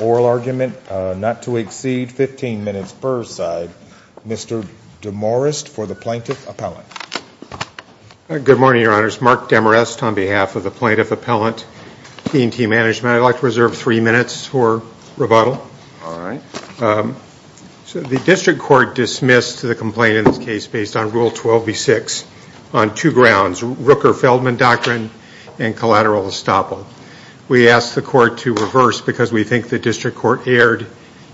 oral argument not to exceed 15 minutes per side. Mr. Demarest for the Plaintiff Appellant. Good morning, Your Honors. Mark Demarest on behalf of the Plaintiff Appellant, T&T Management. I'd like to reserve three minutes for rebuttal. All right. So the District Court dismissed the complaint in this case based on Rule 12B6. On two grounds, Rooker-Feldman doctrine and collateral estoppel. We asked the Court to reverse because we think the District Court erred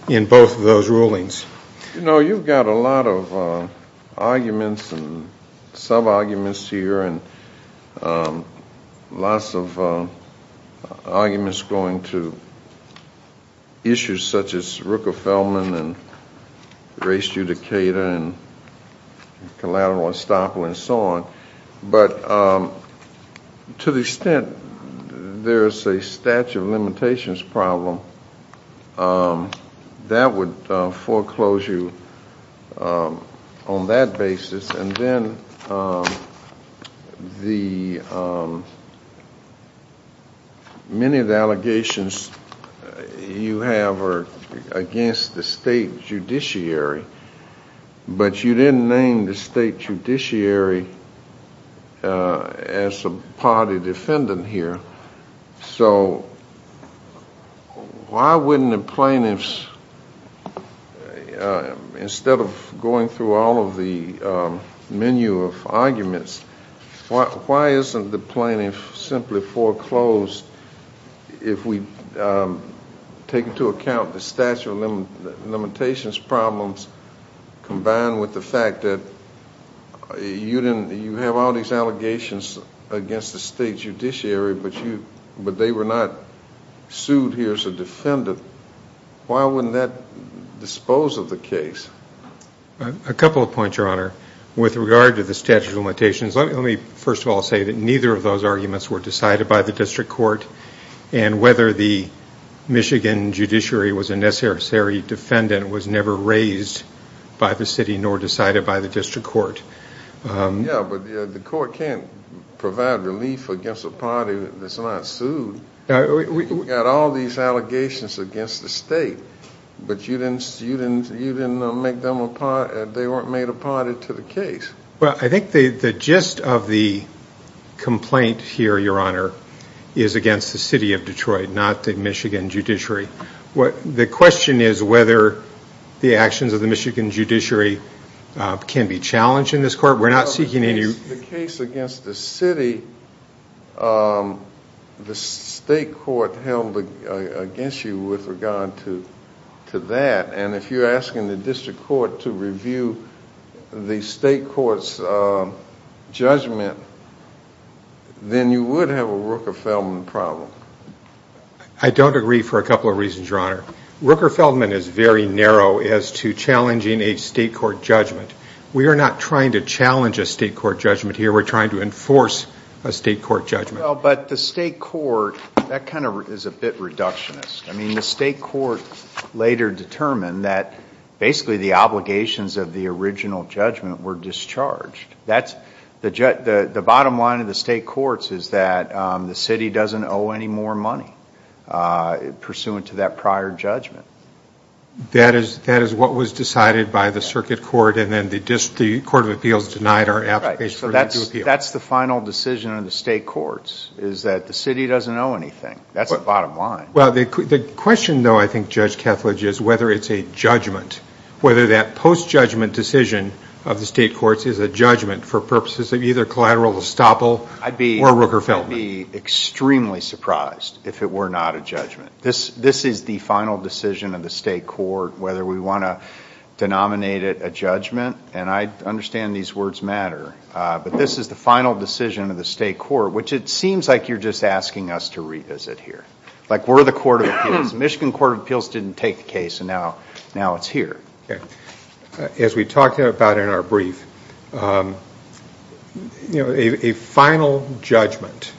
in both of those rulings. You know, you've got a lot of arguments and sub-arguments here and lots of arguments going to issues such as Rooker-Feldman and race judicata and collateral estoppel and so on. But to the extent there's a statute of limitations problem, that would foreclose you on that basis. And then many of the allegations you have are against the State Judiciary, but you didn't name the State Judiciary as a party defendant here. So why wouldn't the plaintiffs, instead of going through all of the menu of arguments, why isn't the plaintiff simply foreclosed if we take into account the statute of limitations problems combined with the fact that you have all these allegations against the State Judiciary, but they were not sued here as a defendant. Why wouldn't that dispose of the case? A couple of points, Your Honor. With regard to the statute of limitations, let me first of all say that neither of those arguments were decided by the District Court. And whether the Michigan judiciary was a necessary defendant was never raised by the City nor decided by the District Court. Yeah, but the Court can't provide relief against a party that's not sued. We've got all these allegations against the State, but you didn't make them a party. They weren't made a party to the case. Well, I think the gist of the complaint here, Your Honor, is against the City of Detroit, not the Michigan judiciary. The question is whether the actions of the Michigan judiciary can be challenged in this court. The case against the City, the State Court held against you with regard to that, and if you're asking the District Court to review the State Court's judgment, then you would have a Rooker-Feldman problem. I don't agree for a couple of reasons, Your Honor. Rooker-Feldman is very narrow as to challenging a State Court judgment. We are not trying to challenge a State Court judgment here. We're trying to enforce a State Court judgment. Well, but the State Court, that kind of is a bit reductionist. I mean, the State Court later determined that basically the obligations of the original judgment were discharged. The bottom line of the State Courts is that the City doesn't owe any more money pursuant to that prior judgment. That is what was decided by the Circuit Court, and then the Court of Appeals denied our application. So that's the final decision of the State Courts, is that the City doesn't owe anything. That's the bottom line. Well, the question, though, I think, Judge Kethledge, is whether it's a judgment, whether that post-judgment decision of the State Courts is a judgment for purposes of either collateral estoppel or Rooker-Feldman. I'd be extremely surprised if it were not a judgment. This is the final decision of the State Court, whether we want to denominate it a judgment, and I understand these words matter, but this is the final decision of the State Court, which it seems like you're just asking us to revisit here. Like, we're the Court of Appeals. The Michigan Court of Appeals didn't take the case, and now it's here. As we talked about in our brief, a final judgment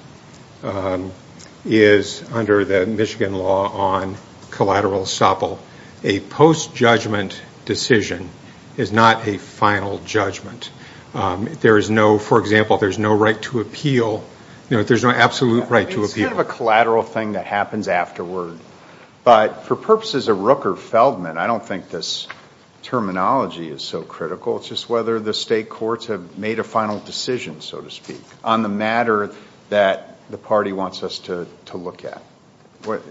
is, under the Michigan law on collateral estoppel, a post-judgment decision is not a final judgment. There is no, for example, there's no right to appeal. There's no absolute right to appeal. It's kind of a collateral thing that happens afterward, but for purposes of Rooker-Feldman, I don't think this terminology is so critical. It's just whether the State Courts have made a final decision, so to speak, on the matter that the party wants us to look at.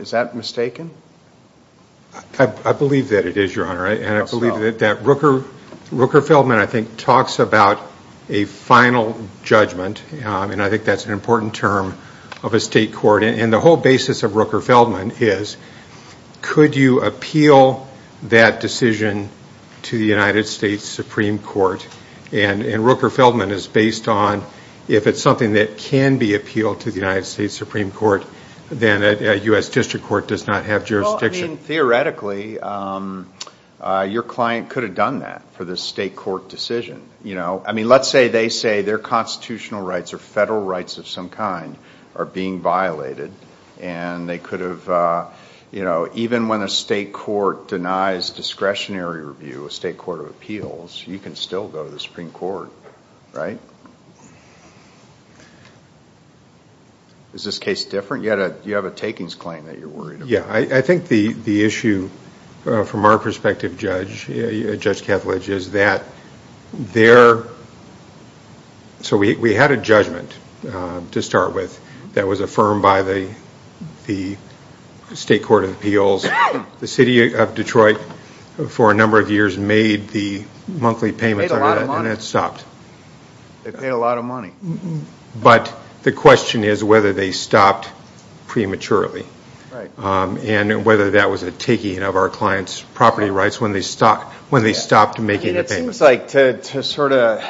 Is that mistaken? I believe that it is, Your Honor, and I believe that Rooker-Feldman, I think, talks about a final judgment, and I think that's an important term of a State Court, and the whole basis of Rooker-Feldman is, could you appeal that decision to the United States Supreme Court? And Rooker-Feldman is based on, if it's something that can be appealed to the United States Supreme Court, then a U.S. District Court does not have jurisdiction. Well, I mean, theoretically, your client could have done that for the State Court decision. I mean, let's say they say their constitutional rights or federal rights of some kind are being violated, and they could have, even when a State Court denies discretionary review, a State Court of Appeals, you can still go to the Supreme Court, right? Is this case different? You have a takings claim that you're worried about. Yeah, I think the issue, from our perspective, Judge Kethledge, is that there – so we had a judgment to start with that was affirmed by the State Court of Appeals. The city of Detroit, for a number of years, made the monthly payments under that, and it stopped. They paid a lot of money. But the question is whether they stopped prematurely and whether that was a taking of our client's property rights when they stopped making the payments. It seems like, to sort of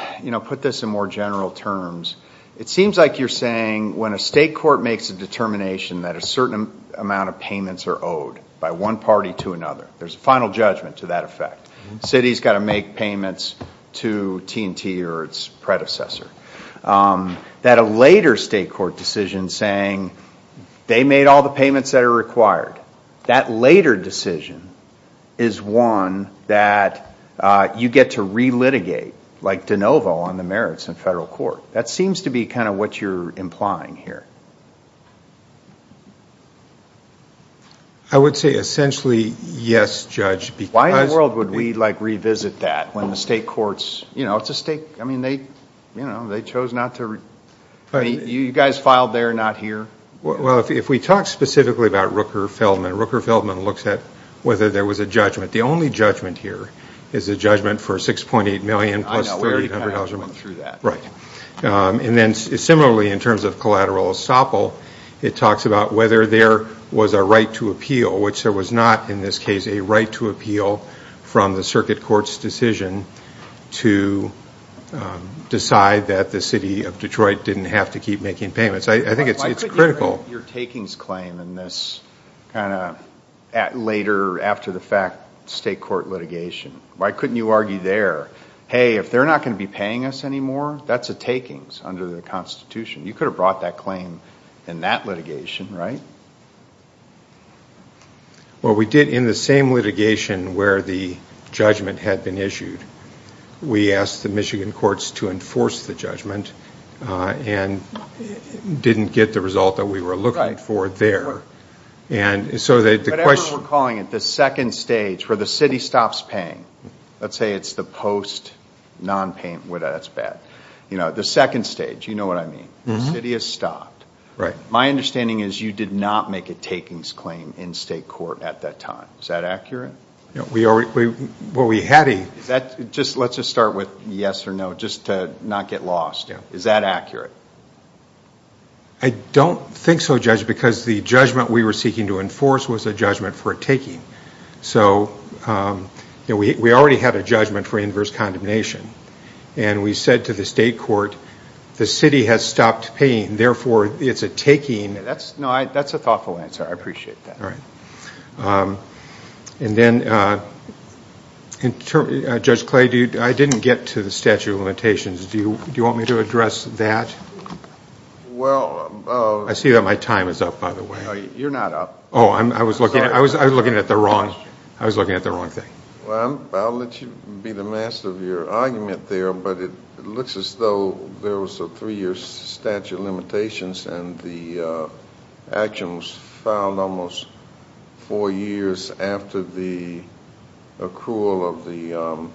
put this in more general terms, it seems like you're saying when a State Court makes a determination that a certain amount of payments are owed by one party to another, there's a final judgment to that effect. The city's got to make payments to T&T or its predecessor. That a later State Court decision saying they made all the payments that are required, that later decision is one that you get to relitigate, like de novo, on the merits in federal court. That seems to be kind of what you're implying here. I would say essentially, yes, Judge. Why in the world would we, like, revisit that when the State Courts, you know, it's a State, I mean, they chose not to. You guys filed there, not here. Well, if we talk specifically about Rooker-Feldman, Rooker-Feldman looks at whether there was a judgment. The only judgment here is a judgment for $6.8 million plus $300 million. I know, we already kind of went through that. And then similarly, in terms of collateral estoppel, it talks about whether there was a right to appeal, which there was not in this case a right to appeal from the circuit court's decision to decide that the city of Detroit didn't have to keep making payments. I think it's critical. Why couldn't you bring your takings claim in this kind of later, after-the-fact State Court litigation? Why couldn't you argue there, hey, if they're not going to be paying us anymore, that's a takings under the Constitution. You could have brought that claim in that litigation, right? Well, we did in the same litigation where the judgment had been issued. We asked the Michigan courts to enforce the judgment and didn't get the result that we were looking for there. Whatever we're calling it, the second stage where the city stops paying. Let's say it's the post non-payment, that's bad. The second stage, you know what I mean. The city has stopped. My understanding is you did not make a takings claim in State Court at that time. Is that accurate? Let's just start with yes or no, just to not get lost. Is that accurate? I don't think so, Judge, because the judgment we were seeking to enforce was a judgment for a taking. We already had a judgment for inverse condemnation, and we said to the State Court, the city has stopped paying, therefore it's a taking. That's a thoughtful answer. I appreciate that. All right. Judge Clay, I didn't get to the statute of limitations. Do you want me to address that? I see that my time is up, by the way. You're not up. Oh, I was looking at the wrong thing. Well, I'll let you be the master of your argument there, but it looks as though there was a three-year statute of limitations, and the action was filed almost four years after the accrual of the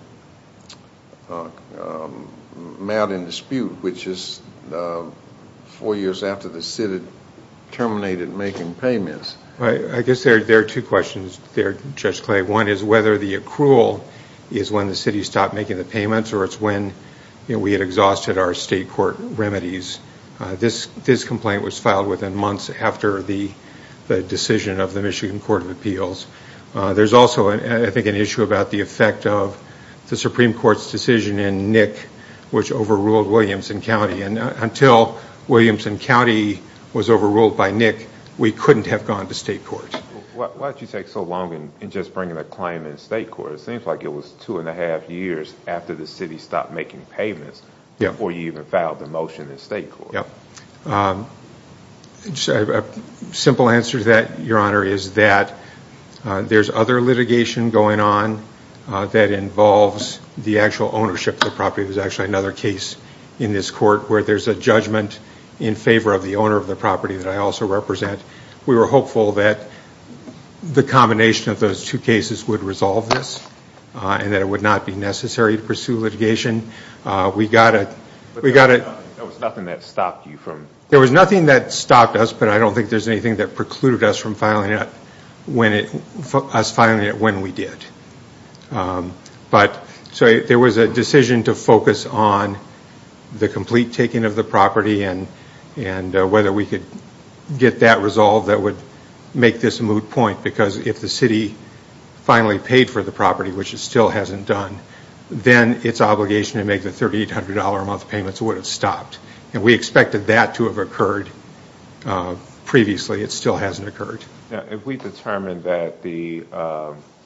matter in dispute, which is four years after the city terminated making payments. I guess there are two questions there, Judge Clay. One is whether the accrual is when the city stopped making the payments or it's when we had exhausted our State Court remedies. This complaint was filed within months after the decision of the Michigan Court of Appeals. There's also, I think, an issue about the effect of the Supreme Court's decision in Nick, which overruled Williamson County, and until Williamson County was overruled by Nick, we couldn't have gone to State Court. Why did you take so long in just bringing a claim in State Court? It seems like it was two-and-a-half years after the city stopped making payments before you even filed the motion in State Court. A simple answer to that, Your Honor, is that there's other litigation going on that involves the actual ownership of the property. There's actually another case in this court where there's a judgment in favor of the owner of the property that I also represent. We were hopeful that the combination of those two cases would resolve this and that it would not be necessary to pursue litigation. We got a... There was nothing that stopped you from... There was nothing that stopped us, but I don't think there's anything that precluded us from filing it when we did. So there was a decision to focus on the complete taking of the property and whether we could get that resolved that would make this a moot point because if the city finally paid for the property, which it still hasn't done, then its obligation to make the $3,800-a-month payments would have stopped. And we expected that to have occurred previously. It still hasn't occurred. Now, if we determined that the...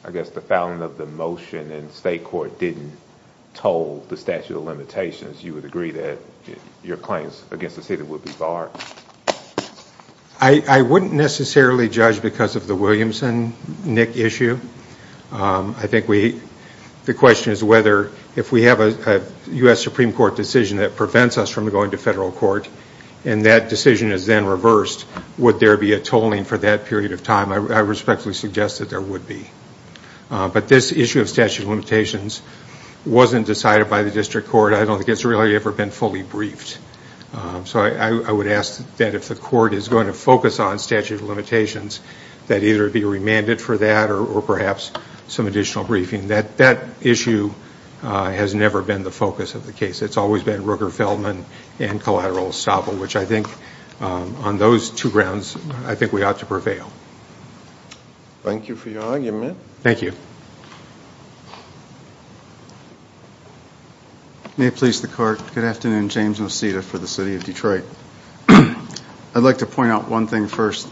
I guess the filing of the motion in State Court didn't toll the statute of limitations, you would agree that your claims against the city would be barred? I wouldn't necessarily judge because of the Williamson-Nick issue. I think we... The question is whether if we have a U.S. Supreme Court decision that prevents us from going to federal court and that decision is then reversed, would there be a tolling for that period of time? I respectfully suggest that there would be. But this issue of statute of limitations wasn't decided by the district court. I don't think it's really ever been fully briefed. So I would ask that if the court is going to focus on statute of limitations, that either it be remanded for that or perhaps some additional briefing. That issue has never been the focus of the case. It's always been Rooker-Feldman and collateral estoppel, which I think on those two grounds I think we ought to prevail. Thank you for your argument. Thank you. May it please the Court. Good afternoon. James Mosita for the City of Detroit. I'd like to point out one thing first.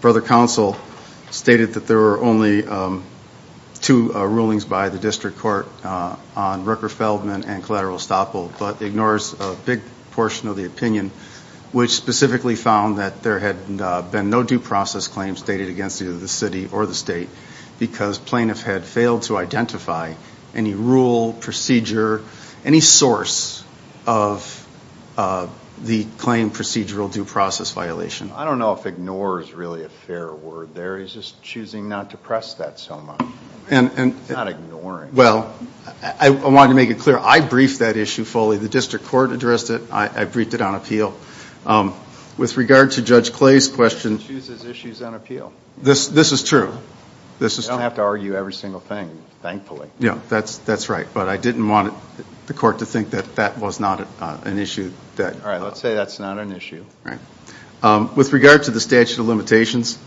Brother Counsel stated that there were only two rulings by the district court on Rooker-Feldman and collateral estoppel but ignores a big portion of the opinion, which specifically found that there had been no due process claims stated against either the city or the state because plaintiff had failed to identify any rule, procedure, any source of the claim procedural due process violation. I don't know if ignore is really a fair word there. He's just choosing not to press that so much, not ignoring. Well, I wanted to make it clear. I briefed that issue fully. The district court addressed it. I briefed it on appeal. With regard to Judge Clay's question. He chooses issues on appeal. This is true. You don't have to argue every single thing, thankfully. Yeah, that's right. But I didn't want the court to think that that was not an issue. All right. Let's say that's not an issue. Right. With regard to the statute of limitations,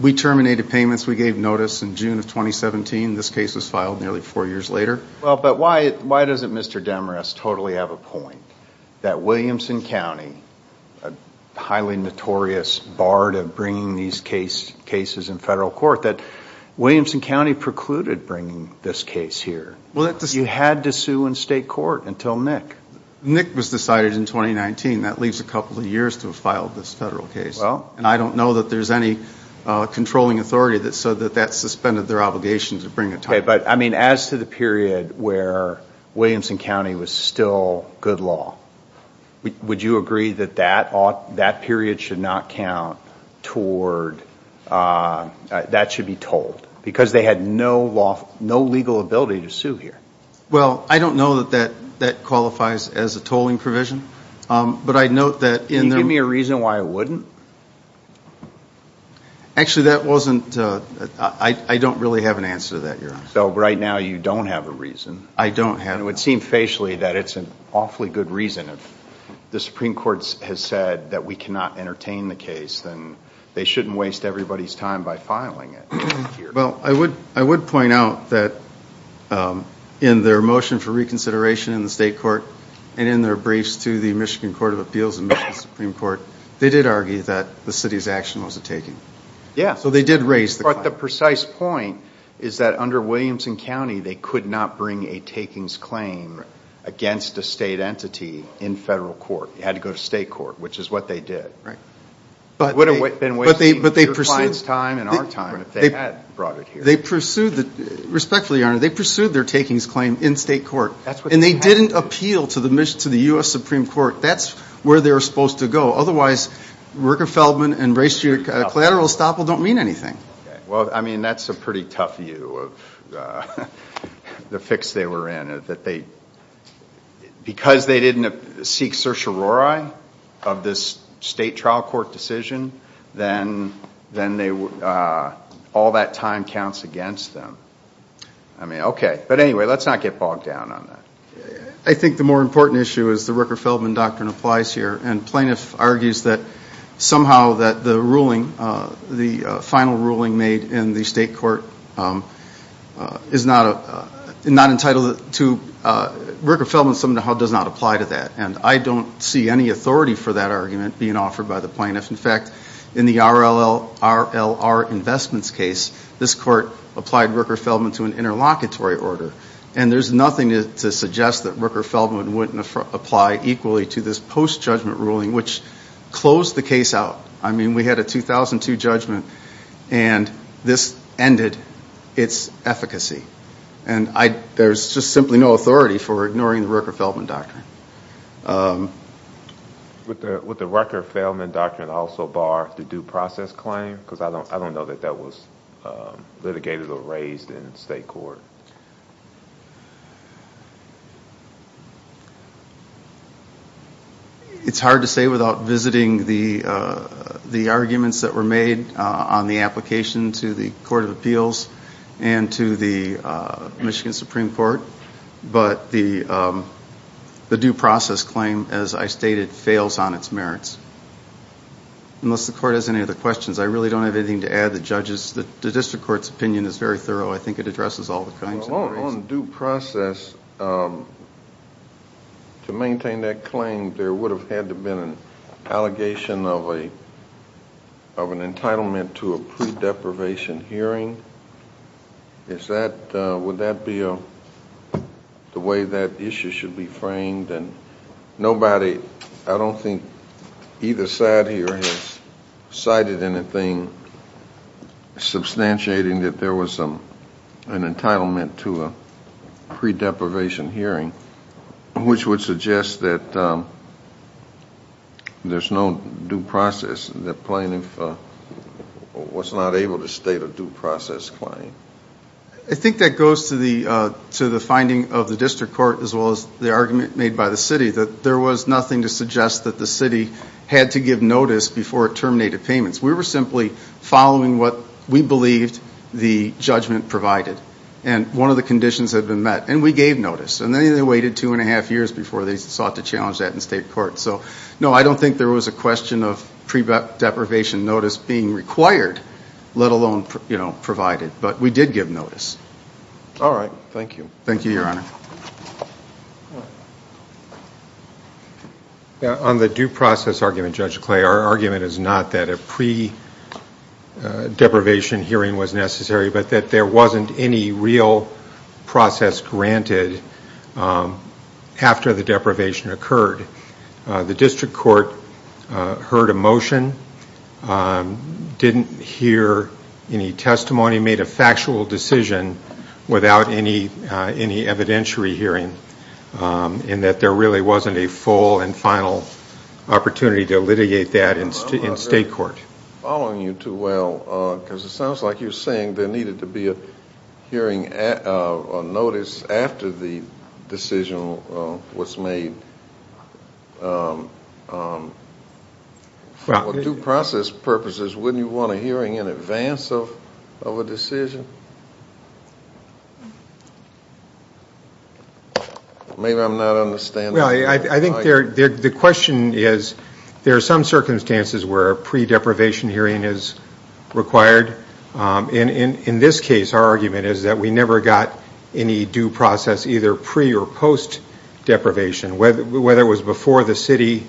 we terminated payments. We gave notice in June of 2017. This case was filed nearly four years later. But why doesn't Mr. Demarest totally have a point that Williamson County, a highly notorious bard of bringing these cases in federal court, that Williamson County precluded bringing this case here? You had to sue in state court until Nick. Nick was decided in 2019. That leaves a couple of years to have filed this federal case. And I don't know that there's any controlling authority so that that suspended their obligation to bring it to us. But, I mean, as to the period where Williamson County was still good law, would you agree that that period should not count toward, that should be told? Because they had no legal ability to sue here. Well, I don't know that that qualifies as a tolling provision. But I note that in the- Can you give me a reason why it wouldn't? Actually, that wasn't, I don't really have an answer to that, Your Honor. So right now you don't have a reason. I don't have a reason. And it would seem facially that it's an awfully good reason. If the Supreme Court has said that we cannot entertain the case, then they shouldn't waste everybody's time by filing it here. Well, I would point out that in their motion for reconsideration in the state court and in their briefs to the Michigan Court of Appeals and Michigan Supreme Court, they did argue that the city's action was a taking. So they did raise the claim. But the precise point is that under Williamson County, they could not bring a takings claim against a state entity in federal court. It had to go to state court, which is what they did. But they pursued- It would have been wasting your client's time and our time if they had brought it here. Respectfully, Your Honor, they pursued their takings claim in state court. And they didn't appeal to the U.S. Supreme Court. That's where they were supposed to go. Otherwise, Rooker-Feldman and racially collateral estoppel don't mean anything. Well, I mean, that's a pretty tough view of the fix they were in, that because they didn't seek certiorari of this state trial court decision, then all that time counts against them. I mean, okay. But anyway, let's not get bogged down on that. I think the more important issue is the Rooker-Feldman doctrine applies here. And plaintiff argues that somehow that the ruling, the final ruling made in the state court is not entitled to- Rooker-Feldman somehow does not apply to that. And I don't see any authority for that argument being offered by the plaintiff. In fact, in the RLR Investments case, this court applied Rooker-Feldman to an interlocutory order. And there's nothing to suggest that Rooker-Feldman wouldn't apply equally to this post-judgment ruling, which closed the case out. I mean, we had a 2002 judgment, and this ended its efficacy. And there's just simply no authority for ignoring the Rooker-Feldman doctrine. Would the Rooker-Feldman doctrine also bar the due process claim? Because I don't know that that was litigated or raised in state court. It's hard to say without visiting the arguments that were made on the application to the Court of Appeals and to the Michigan Supreme Court. But the due process claim, as I stated, fails on its merits. Unless the court has any other questions. I really don't have anything to add to the judges. The district court's opinion is very thorough. I think it addresses all kinds of issues. On due process, to maintain that claim, there would have had to have been an allegation of an entitlement to a pre-deprivation hearing. Would that be the way that issue should be framed? I don't think either side here has cited anything substantiating that there was an entitlement to a pre-deprivation hearing, which would suggest that there's no due process. The plaintiff was not able to state a due process claim. I think that goes to the finding of the district court as well as the argument made by the city, that there was nothing to suggest that the city had to give notice before it terminated payments. We were simply following what we believed the judgment provided. And one of the conditions had been met. And we gave notice. And they waited two and a half years before they sought to challenge that in state court. So, no, I don't think there was a question of pre-deprivation notice being required, let alone provided. But we did give notice. All right. Thank you. Thank you, Your Honor. On the due process argument, Judge Clay, our argument is not that a pre-deprivation hearing was necessary, but that there wasn't any real process granted after the deprivation occurred. The district court heard a motion, didn't hear any testimony, made a factual decision without any evidentiary hearing, and that there really wasn't a full and final opportunity to litigate that in state court. I'm not following you too well, because it sounds like you're saying there needed to be a hearing notice after the decision was made. For due process purposes, wouldn't you want a hearing in advance of a decision? Maybe I'm not understanding. Well, I think the question is there are some circumstances where a pre-deprivation hearing is required. In this case, our argument is that we never got any due process either pre- or post-deprivation. Whether it was before the city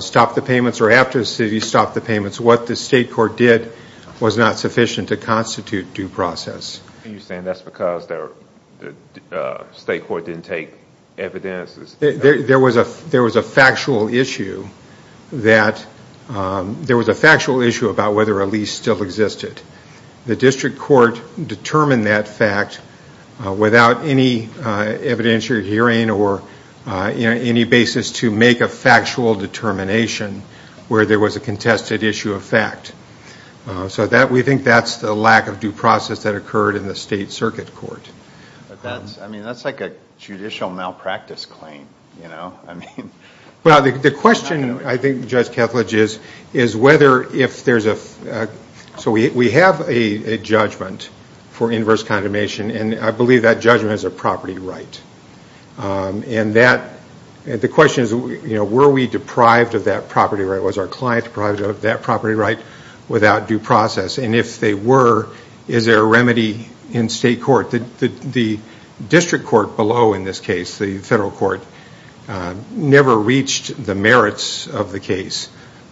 stopped the payments or after the city stopped the payments, what the state court did was not sufficient to constitute due process. Are you saying that's because the state court didn't take evidence? There was a factual issue about whether a lease still existed. The district court determined that fact without any evidentiary hearing or any basis to make a factual determination where there was a contested issue of fact. So we think that's the lack of due process that occurred in the state circuit court. That's like a judicial malpractice claim. The question, I think, Judge Kethledge, is whether if there's a – so we have a judgment for inverse condemnation, and I believe that judgment is a property right. The question is were we deprived of that property right? Was our client deprived of that property right without due process? And if they were, is there a remedy in state court? The district court below in this case, the federal court, never reached the merits of the case,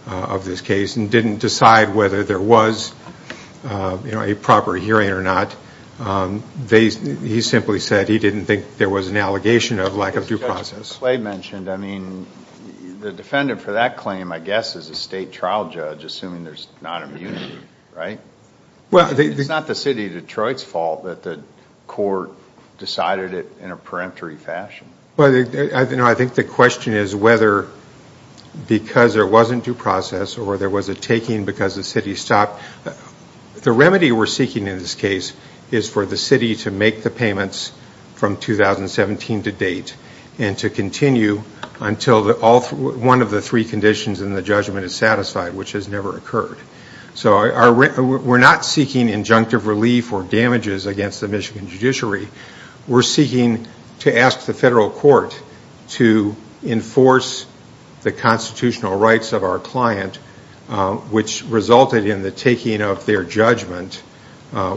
of this case, and didn't decide whether there was a proper hearing or not. He simply said he didn't think there was an allegation of lack of due process. Judge Kethledge mentioned, I mean, the defendant for that claim, I guess, is a state trial judge, assuming there's not immunity, right? It's not the city of Detroit's fault that the court decided it in a peremptory fashion. I think the question is whether because there wasn't due process or there was a taking because the city stopped. The remedy we're seeking in this case is for the city to make the payments from 2017 to date and to continue until one of the three conditions in the judgment is satisfied, which has never occurred. So we're not seeking injunctive relief or damages against the Michigan judiciary. We're seeking to ask the federal court to enforce the constitutional rights of our client, which resulted in the taking of their judgment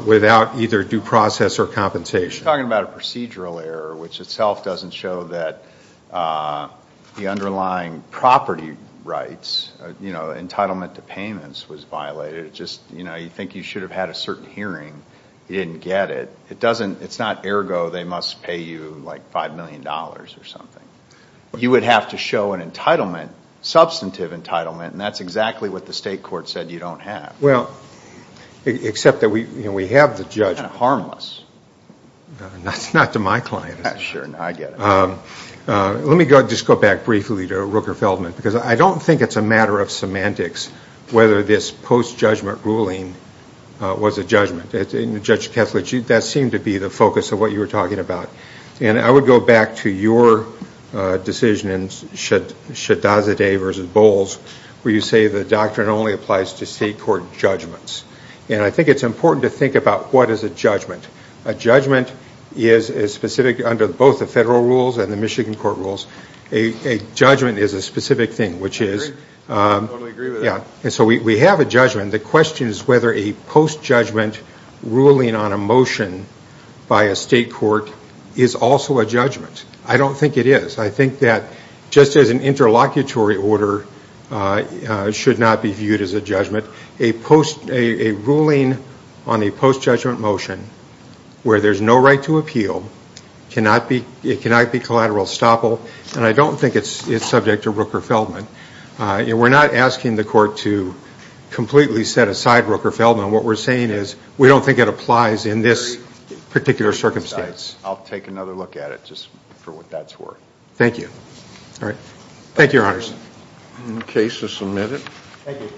without either due process or compensation. You're talking about a procedural error, which itself doesn't show that the underlying property rights, you know, entitlement to payments was violated. It just, you know, you think you should have had a certain hearing. You didn't get it. It doesn't, it's not ergo they must pay you like $5 million or something. You would have to show an entitlement, substantive entitlement, and that's exactly what the state court said you don't have. Well, except that we have the judge. Kind of harmless. Not to my client. Sure, I get it. Let me just go back briefly to Rooker-Feldman, because I don't think it's a matter of semantics whether this post-judgment ruling was a judgment. Judge Kessler, that seemed to be the focus of what you were talking about. And I would go back to your decision in Shadazadeh v. Bowles, where you say the doctrine only applies to state court judgments. And I think it's important to think about what is a judgment. A judgment is specific under both the federal rules and the Michigan court rules. A judgment is a specific thing, which is we have a judgment. The question is whether a post-judgment ruling on a motion by a state court is also a judgment. I don't think it is. I think that just as an interlocutory order should not be viewed as a judgment, a ruling on a post-judgment motion where there's no right to appeal cannot be collateral estoppel, and I don't think it's subject to Rooker-Feldman. We're not asking the court to completely set aside Rooker-Feldman. What we're saying is we don't think it applies in this particular circumstance. I'll take another look at it just for what that's worth. Thank you. All right. Thank you, Your Honors. The case is submitted. Thank you.